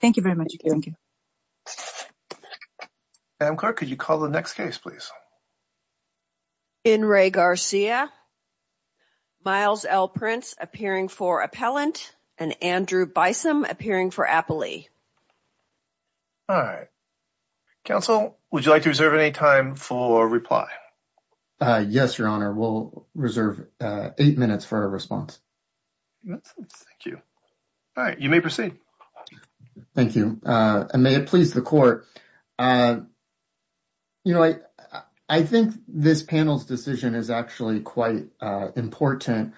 Thank you very much. Thank you. Could you call the next case, please? In re Garcia. Miles L prints appearing for appellant and Andrew by some appearing for. All right, counsel, would you like to reserve any time for reply? Yes, your honor will reserve 8 minutes for a response. Thank you. All right, you may proceed. Thank you. May it please the court. You know, I, I think this panel's decision is actually quite important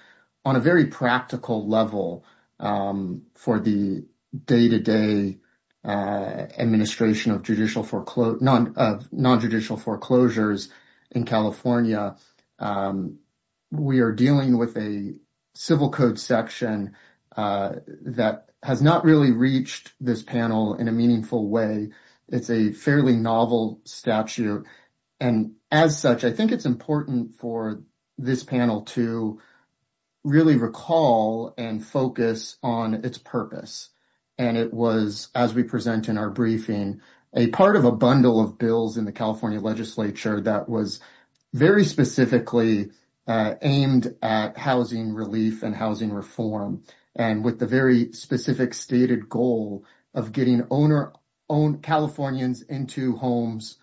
on a very practical level for the day to day administration of judicial for non non judicial foreclosures in California. We are dealing with a civil code section that has not really reached this panel in a meaningful way. It's a fairly novel statute. And as such, I think it's important for this panel to. Really recall and focus on its purpose. And it was, as we present in our briefing, a part of a bundle of bills in the California legislature that was. Very specifically aimed at housing relief and housing reform, and with the very specific stated goal of getting owner own Californians into homes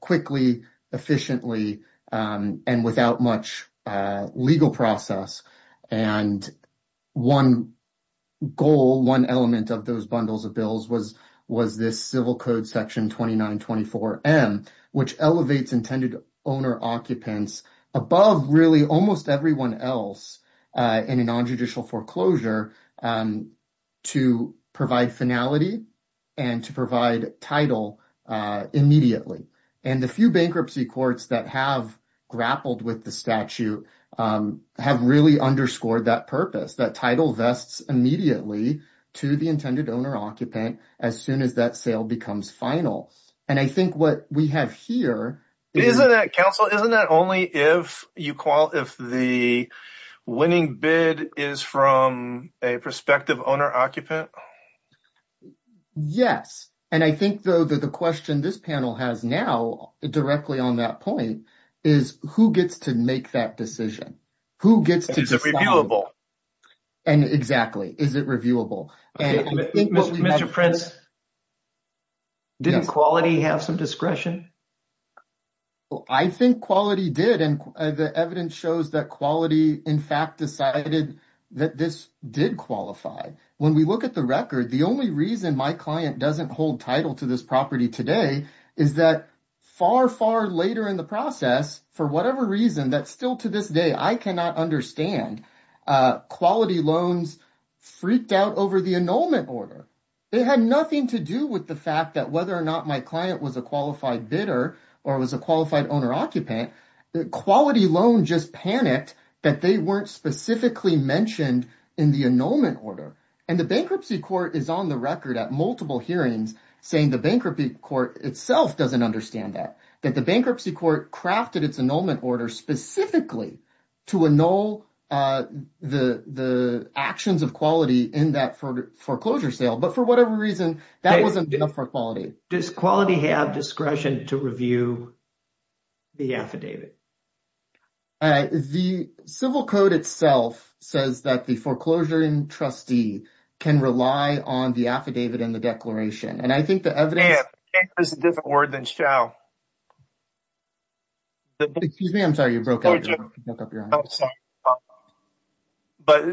quickly, efficiently and without much legal process and. 1 goal, 1 element of those bundles of bills was was this civil code section 2924 M, which elevates intended. Owner occupants above really almost everyone else in a non judicial foreclosure. To provide finality and to provide title immediately and the few bankruptcy courts that have grappled with the statute have really underscored that purpose. That title vests immediately to the intended owner occupant as soon as that sale becomes final. And I think what we have here. Isn't that counsel? Isn't that only if you call if the winning bid is from a prospective owner occupant? Yes, and I think, though, that the question this panel has now directly on that point is who gets to make that decision? Who gets to reviewable. And exactly is it reviewable and Mr. Prince. Didn't quality have some discretion. I think quality did, and the evidence shows that quality in fact, decided that this did qualify when we look at the record. The only reason my client doesn't hold title to this property today is that. Far, far later in the process, for whatever reason, that's still to this day. I cannot understand quality loans. Freaked out over the annulment order. It had nothing to do with the fact that whether or not my client was a qualified bidder or was a qualified owner occupant quality loan. Just panicked that they weren't specifically mentioned in the annulment order, and the bankruptcy court is on the record at multiple hearings, saying the bankruptcy court itself doesn't understand that the bankruptcy court crafted its annulment order specifically. To annul the actions of quality in that foreclosure sale. But for whatever reason, that wasn't enough for quality. Does quality have discretion to review the affidavit? The civil code itself says that the foreclosure and trustee can rely on the affidavit and the declaration. And I think the evidence. I can't. Can't is a different word than shall. Excuse me. I'm sorry. You broke up your hand. But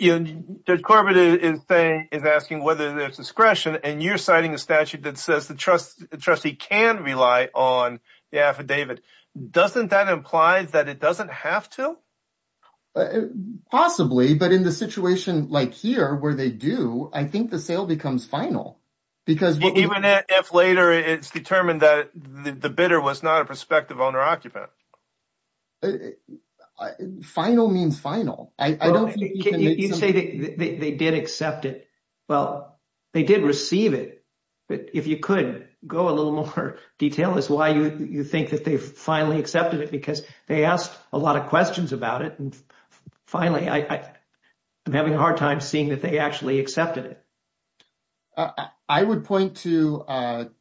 Judge Corbett is saying, is asking whether there's discretion and you're citing a statute that says the trustee can rely on the affidavit. Doesn't that imply that it doesn't have to? Possibly, but in the situation like here where they do, I think the sale becomes final. Because even if later, it's determined that the bidder was not a prospective owner occupant. Final means final. I don't think you say they did accept it. Well, they did receive it. But if you could go a little more detail is why you think that they finally accepted it because they asked a lot of questions about it. And finally, I am having a hard time seeing that they actually accepted it. I would point to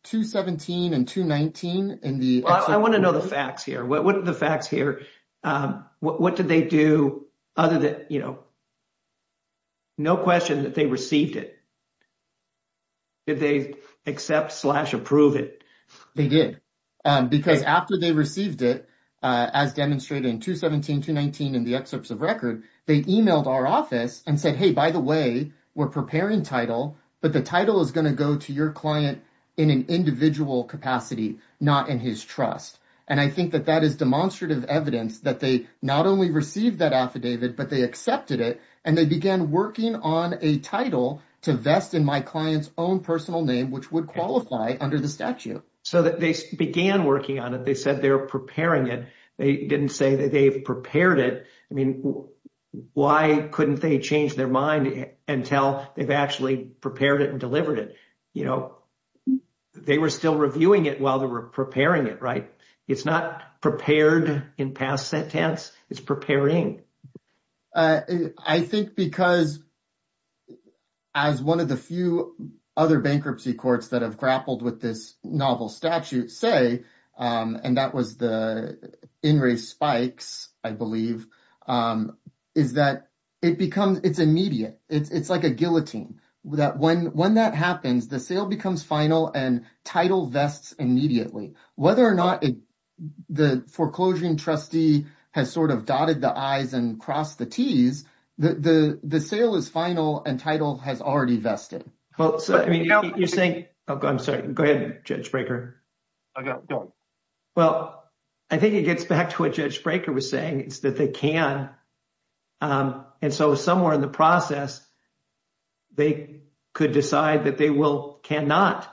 217 and 219 in the. I want to know the facts here. What are the facts here? What did they do? Other than, you know. No question that they received it. Did they accept slash approve it? They did because after they received it as demonstrated in 217, 219 in the excerpts of record, they emailed our office and said, hey, by the way, we're preparing title. But the title is going to go to your client in an individual capacity, not in his trust. And I think that that is demonstrative evidence that they not only received that affidavit, but they accepted it. And they began working on a title to vest in my client's own personal name, which would qualify under the statute so that they began working on it. They said they're preparing it. They didn't say that they've prepared it. I mean, why couldn't they change their mind and tell they've actually prepared it and delivered it? You know, they were still reviewing it while they were preparing it, right? It's not prepared in past tense. It's preparing. I think because as one of the few other bankruptcy courts that have grappled with this novel statute say, and that was the in race spikes. I believe is that it becomes it's immediate. It's like a guillotine that when that happens, the sale becomes final and title vests immediately. Whether or not the foreclosure and trustee has sort of dotted the I's and crossed the T's, the sale is final and title has already vested. Well, I mean, you're saying I'm sorry. Go ahead, Judge Brekker. Well, I think it gets back to what Judge Brekker was saying. It's that they can. And so somewhere in the process, they could decide that they will cannot.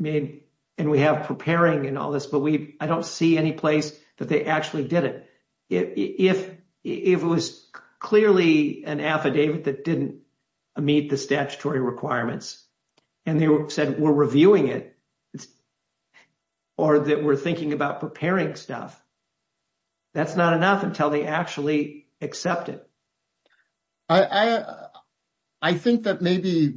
I mean, and we have preparing and all this, but I don't see any place that they actually did it. If it was clearly an affidavit that didn't meet the statutory requirements and they said we're reviewing it. Or that we're thinking about preparing stuff. That's not enough until they actually accept it. I think that maybe.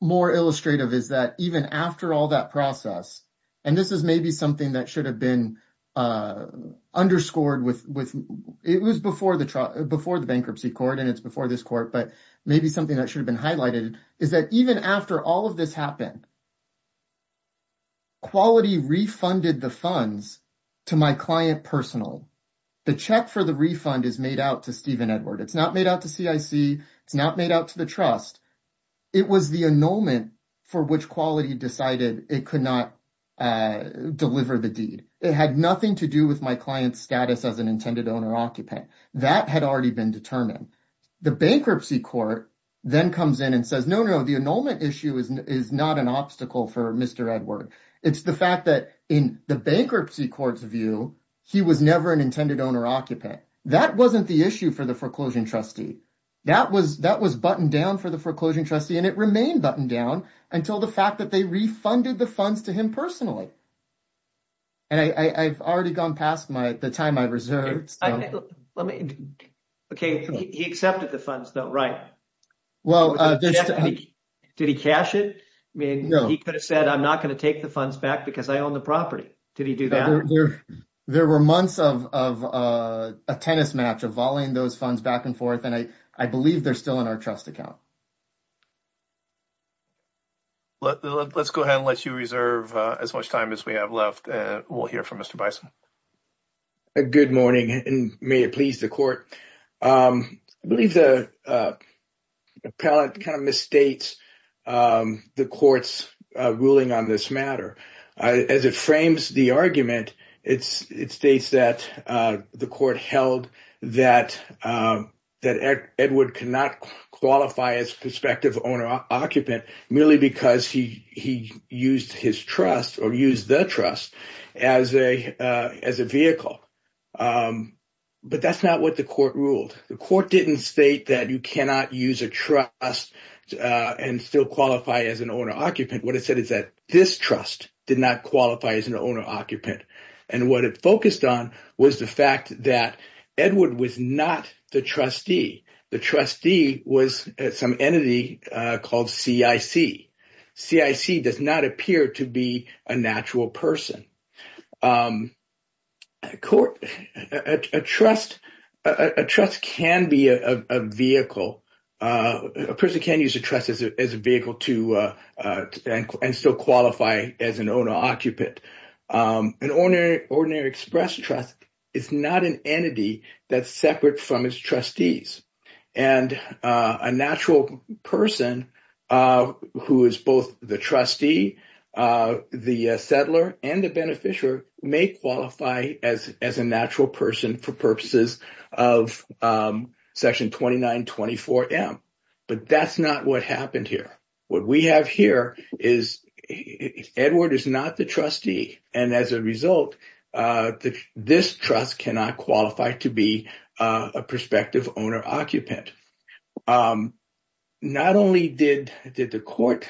More illustrative is that even after all that process, and this is maybe something that should have been underscored with it was before the before the bankruptcy court, and it's before this court, but maybe something that should have been highlighted is that even after all of this happened, Quality refunded the funds to my client personal. The check for the refund is made out to Steven Edward. It's not made out to CIC. It's not made out to the trust. It was the annulment for which Quality decided it could not deliver the deed. It had nothing to do with my client's status as an intended owner-occupant. That had already been determined. The bankruptcy court then comes in and says, no, no, the annulment issue is not an obstacle for Mr. Edward. It's the fact that in the bankruptcy court's view, he was never an intended owner-occupant. That wasn't the issue for the foreclosure trustee. That was buttoned down for the foreclosure trustee, and it remained buttoned down until the fact that they refunded the funds to him personally. And I've already gone past the time I reserved. Let me, okay, he accepted the funds though, right? Did he cash it? I mean, he could have said, I'm not going to take the funds back because I own the property. Did he do that? There were months of a tennis match of volleying those funds back and forth, and I believe they're still in our trust account. Let's go ahead and let you reserve as much time as we have left. We'll hear from Mr. Bison. Good morning, and may it please the court. I believe the appellate kind of misstates the court's ruling on this matter. As it frames the argument, it states that the court held that Edward cannot qualify as prospective owner-occupant merely because he used his trust or used the trust as a vehicle, but that's not what the court ruled. The court didn't state that you cannot use a trust and still qualify as an owner-occupant. What it said is that this trust did not qualify as an owner-occupant, and what it focused on was the fact that Edward was not the trustee. The trustee was some entity called CIC. CIC does not appear to be a natural person. A trust can be a vehicle. A person can use a trust as a vehicle and still qualify as an owner-occupant. An ordinary express trust is not an entity that's separate from its trustees, and a natural person who is both the trustee, the settler, and the beneficiary may qualify as a natural person for purposes of Section 2924M, but that's not what happened here. What we have here is Edward is not the trustee, and as a result, this trust cannot qualify to be a prospective owner-occupant. Not only did the court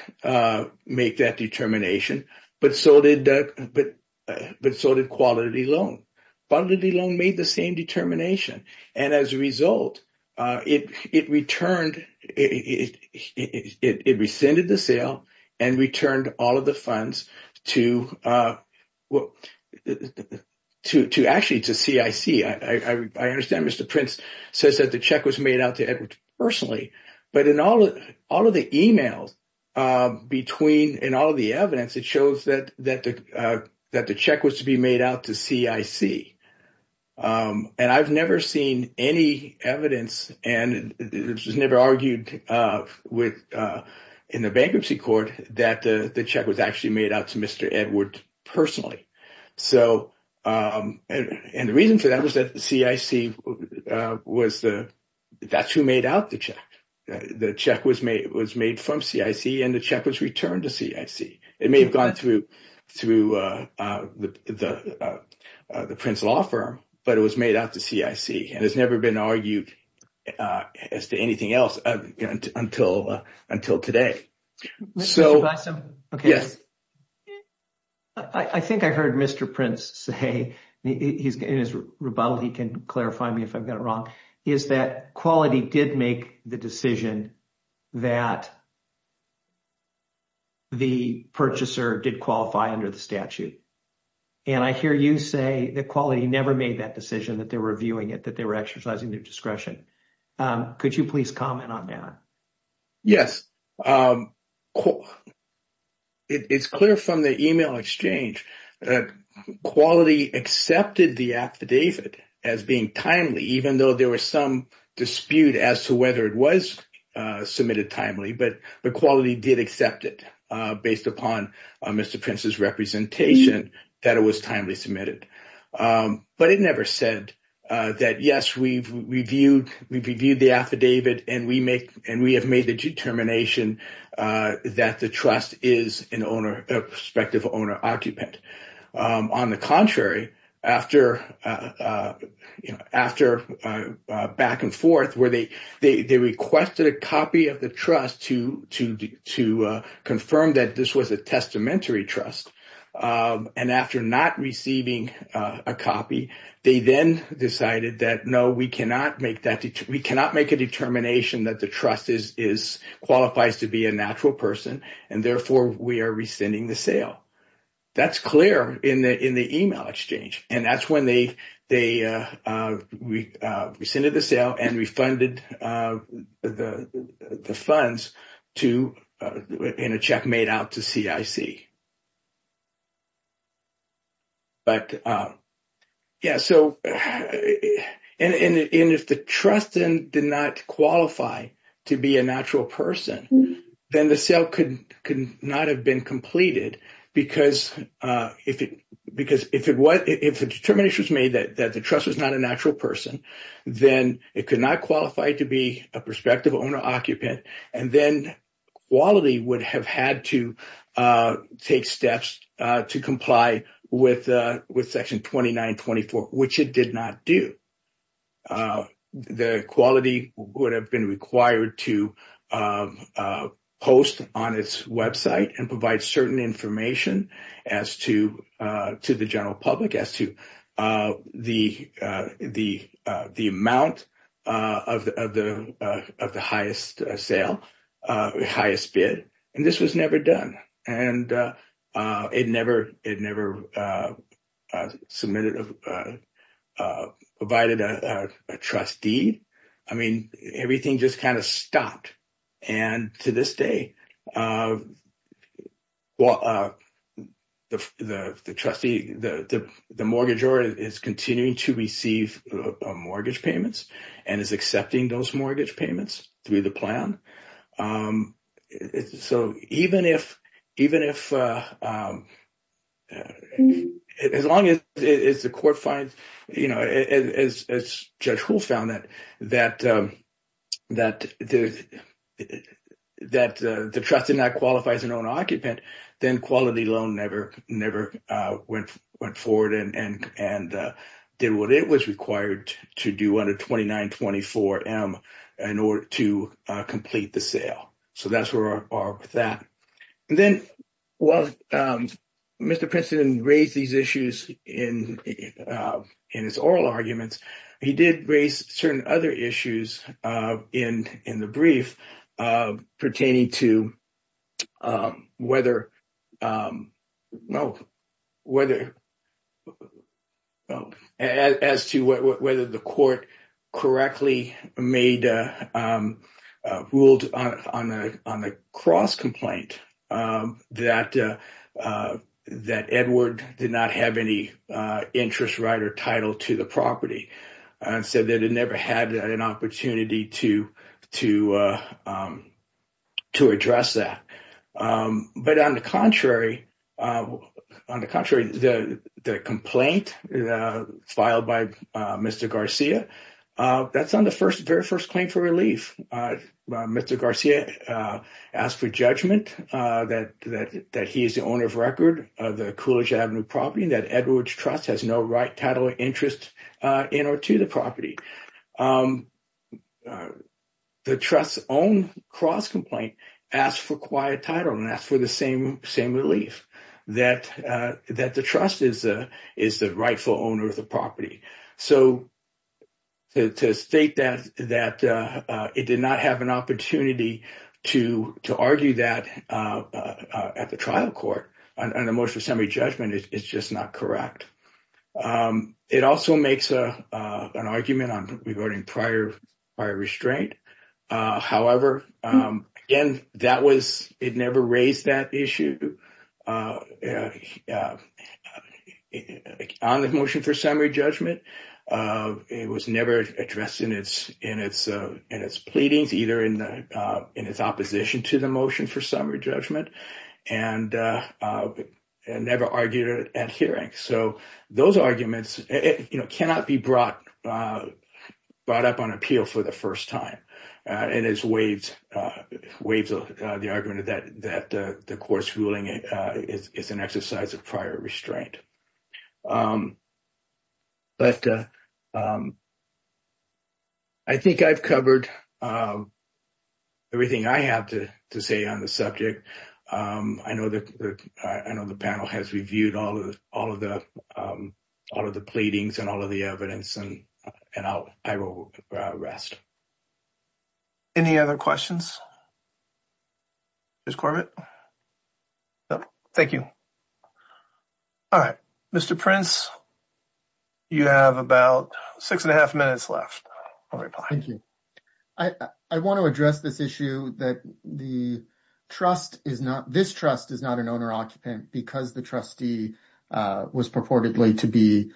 make that determination, but so did Quality Loan. Quality Loan made the same determination, and as a result, it returned—it rescinded the sale and returned all of the funds to CIC. I understand Mr. Prince says that the check was made out to Edward personally, but in all of the emails and all of the evidence, it shows that the check was to be made out to CIC, and I've never seen any evidence, and it was never argued in the bankruptcy court that the check was actually made out to Mr. Edward personally. And the reason for that was that CIC was—that's who made out the check. The check was made from CIC, and the check was returned to CIC. It may have gone through the Prince Law Firm, but it was made out to CIC, and it's never been argued as to anything else until today. I think I heard Mr. Prince say in his rebuttal—he can clarify me if I've got it wrong—is that Quality did make the decision that the purchaser did qualify under the statute, and I hear you say that Quality never made that decision, that they were reviewing it, that they were exercising their discretion. Could you please comment on that? Yes. It's clear from the email exchange that Quality accepted the affidavit as being timely, even though there was some dispute as to whether it was submitted timely, but Quality did accept it based upon Mr. Prince's representation that it was timely submitted. But it never said that, yes, we've reviewed the affidavit, and we have made the determination that the trust is a prospective owner-occupant. On the contrary, after back and forth, they requested a copy of the trust to confirm that this was a testamentary trust, and after not receiving a copy, they then decided that, no, we cannot make a determination that the trust qualifies to be a natural person, and therefore we are rescinding the sale. That's clear in the email exchange, and that's when they rescinded the sale and refunded the funds to, in a check made out to CIC. But, yeah, so, and if the trust did not qualify to be a natural person, then the sale could not have been completed, because if the determination was made that the trust was not a natural person, then it could not qualify to be a prospective owner-occupant, and then Quality would have had to take steps to comply with Section 2924, which it did not do. The Quality would have been required to post on its website and provide certain information as to the general public as to the amount of the highest bid, and this was never done, and it never submitted, provided a trust deed. I mean, everything just kind of stopped, and to this day, well, the trustee, the mortgage owner is continuing to receive mortgage payments and is accepting those mortgage payments through the plan. So even if, as long as the court finds, you know, as Judge Hull found that the trust did not qualify as an owner-occupant, then Quality alone never went forward and did what it was required to do under 2924M in order to complete the sale. So that's where we're at with that. And then while Mr. Princeton raised these issues in his oral arguments, he did raise certain other issues in the brief pertaining to whether, no, whether, as to whether the court correctly made, ruled on a cross-complaint that Edward did not have any interest right or title to the property and said that it never had an opportunity to address that. But on the contrary, the complaint filed by Mr. Garcia, that's on the very first claim for relief. Mr. Garcia asked for judgment that he is the owner of record of the Coolidge Avenue property and that Edward's trust has no right, title, or interest in or to the property. The trust's own cross-complaint asked for quiet title and asked for the same relief, that the trust is the rightful owner of the property. So to state that it did not have an opportunity to argue that at the trial court, an emotional summary judgment, is just not correct. It also makes an argument on regarding prior restraint. However, again, it never raised that issue on the motion for summary judgment. It was never addressed in its pleadings, either in its opposition to the motion for summary judgment, and never argued at hearing. So those arguments cannot be brought up on appeal for the first time. And it waves the argument that the court's ruling is an exercise of prior restraint. But I think I've covered everything I have to say on the subject. I know the panel has reviewed all of the pleadings and all of the evidence, and I will rest. Any other questions? Mr. Corbett? No? Thank you. All right. Mr. Prince, you have about six and a half minutes left. I'll reply. Thank you. I want to address this issue that the trust is not, this trust is not an owner-occupant because the trustee was purportedly to be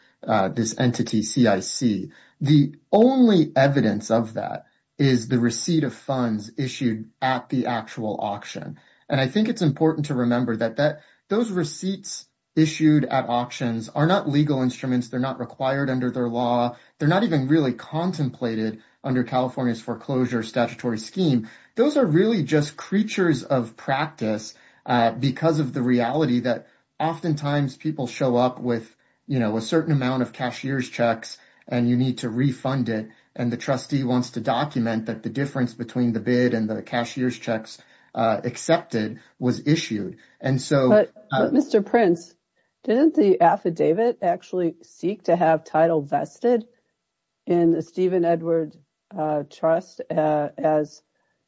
this entity CIC. The only evidence of that is the receipt of funds issued at the actual auction. And I think it's important to remember that those receipts issued at auctions are not legal instruments. They're not required under their law. They're not even really contemplated under California's foreclosure statutory scheme. Those are really just creatures of practice because of the reality that oftentimes people show up with, you know, a certain amount of cashier's checks and you need to refund it, and the trustee wants to document that the difference between the bid and the cashier's checks accepted was issued. But Mr. Prince, didn't the affidavit actually seek to have title vested in the Stephen Edward Trust as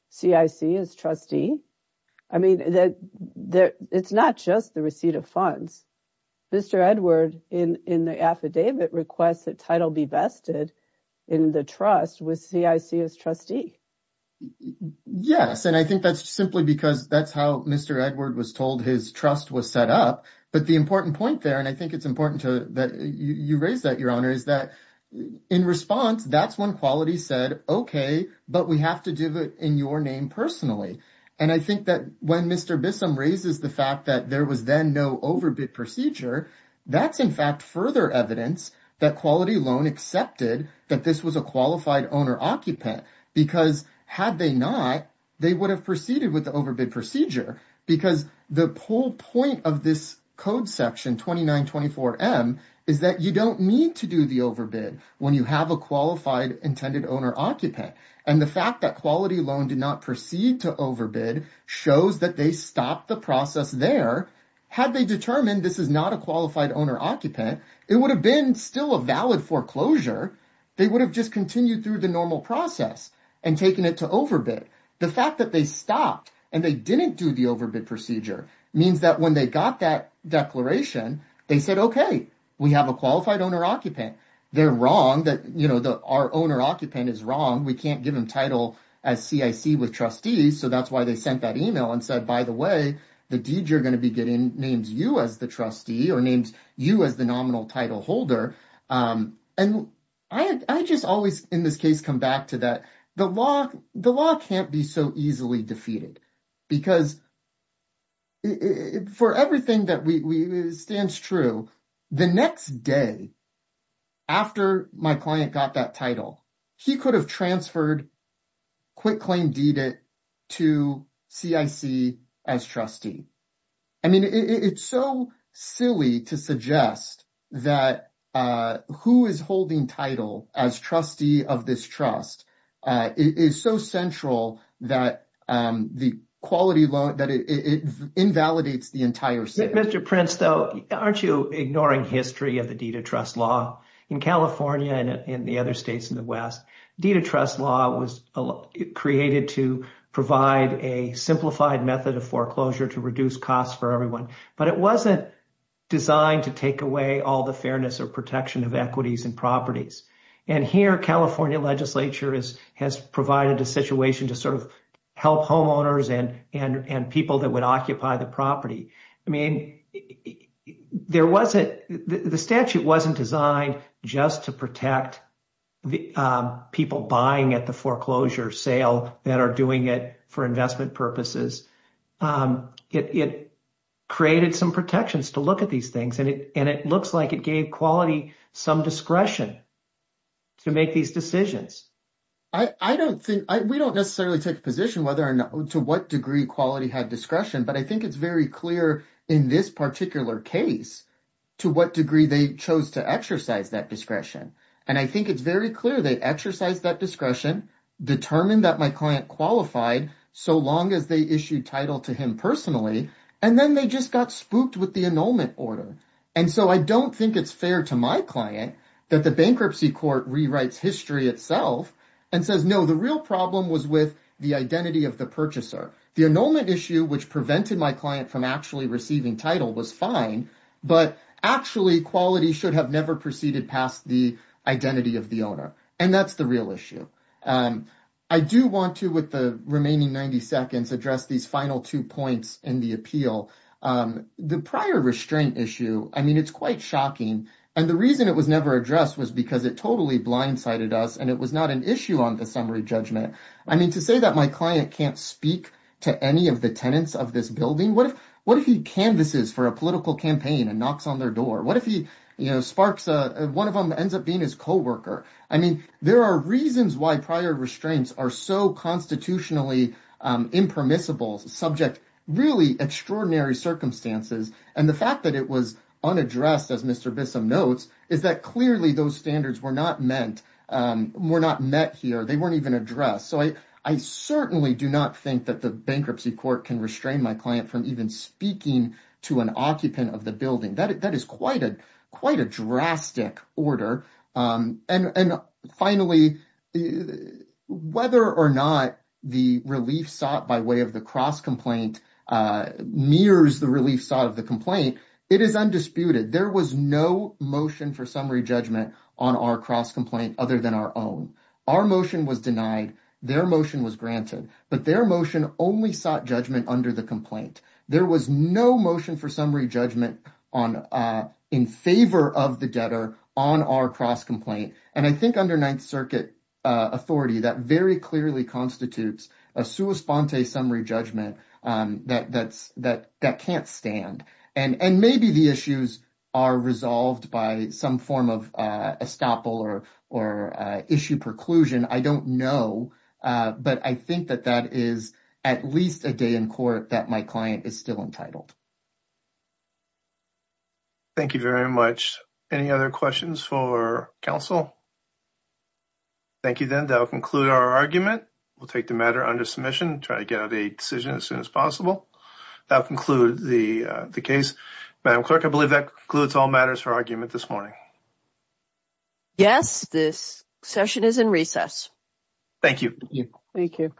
CIC, as trustee? I mean, it's not just the receipt of funds. Mr. Edward, in the affidavit, requests that title be vested in the trust with CIC as trustee. Yes, and I think that's simply because that's how Mr. Edward was told his trust was set up. But the important point there, and I think it's important that you raise that, Your Honor, is that in response, that's when Quality said, okay, but we have to do it in your name personally. And I think that when Mr. Bissum raises the fact that there was then no overbid procedure, that's in fact further evidence that Quality Loan accepted that this was a qualified owner-occupant because had they not, they would have proceeded with the overbid procedure because the whole point of this Code Section 2924M is that you don't need to do the overbid when you have a qualified intended owner-occupant. And the fact that Quality Loan did not proceed to overbid shows that they stopped the process there. Had they determined this is not a qualified owner-occupant, it would have been still a valid foreclosure. They would have just continued through the normal process and taken it to overbid. The fact that they stopped and they didn't do the overbid procedure means that when they got that declaration, they said, okay, we have a qualified owner-occupant. They're wrong that our owner-occupant is wrong. We can't give him title as CIC with trustees. So that's why they sent that email and said, by the way, the deed you're going to be getting names you as the trustee or names you as the nominal title holder. And I just always, in this case, come back to that. The law can't be so easily defeated because for everything that stands true, the next day after my client got that title, he could have transferred Quick Claim Deed It to CIC as trustee. I mean, it's so silly to suggest that who is holding title as trustee of this trust is so central that the quality loan that it invalidates the entire thing. Mr. Prince, though, aren't you ignoring history of the deed of trust law in California and in the other states in the West? Deed of trust law was created to provide a simplified method of foreclosure to reduce costs for everyone. But it wasn't designed to take away all the fairness or protection of equities and properties. And here, California legislature has provided a situation to sort of help homeowners and people that would occupy the property. I mean, there wasn't, the statute wasn't designed just to protect the people buying at the foreclosure sale that are doing it for investment purposes. It created some protections to look at these things and it looks like it gave quality some discretion to make these decisions. I don't think, we don't necessarily take a position to what degree quality had discretion, but I think it's very clear in this particular case to what degree they chose to exercise that discretion. And I think it's very clear they exercised that discretion, determined that my client qualified so long as they issued title to him personally, and then they just got spooked with the annulment order. And so I don't think it's fair to my client that the bankruptcy court rewrites history itself and says, no, the real problem was with the identity of the purchaser. The annulment issue, which prevented my client from actually receiving title was fine, but actually quality should have never proceeded past the identity of the owner. And that's the real issue. I do want to, with the remaining 90 seconds, address these final two points in the appeal. The prior restraint issue, I mean, it's quite shocking. And the reason it was never addressed was because it totally blindsided us and it was not an issue on the summary judgment. I mean, to say that my client can't speak to any of the tenants of this building, what if he canvases for a political campaign and knocks on their door? What if he sparks, one of them ends up being his coworker? I mean, there are reasons why prior restraints are so constitutionally impermissible subject really extraordinary circumstances. And the fact that it was unaddressed as Mr. Bissum notes, is that clearly those standards were not meant, were not met here. They weren't even addressed. So I certainly do not think that the bankruptcy court can restrain my client from even speaking to an occupant of the building. That is quite a quite a drastic order. And finally, whether or not the relief sought by way of the cross complaint mirrors the relief sought of the complaint, it is undisputed. There was no motion for summary judgment on our cross complaint other than our own. Our motion was denied, their motion was granted, but their motion only sought judgment under the complaint. There was no motion for summary judgment in favor of the debtor on our cross complaint. And I think under Ninth Circuit authority that very clearly constitutes a sua sponte summary judgment that can't stand. And maybe the issues are resolved by some form of estoppel or issue preclusion. I don't know, but I think that that is at least a day in court that my client is still entitled. Thank you very much. Any other questions for counsel? Thank you. Then that'll conclude our argument. We'll take the matter under submission, try to get out a decision as soon as possible. That'll conclude the case. Madam Clerk, I believe that concludes all matters for argument this morning. Yes, this session is in recess. Thank you. Thank you.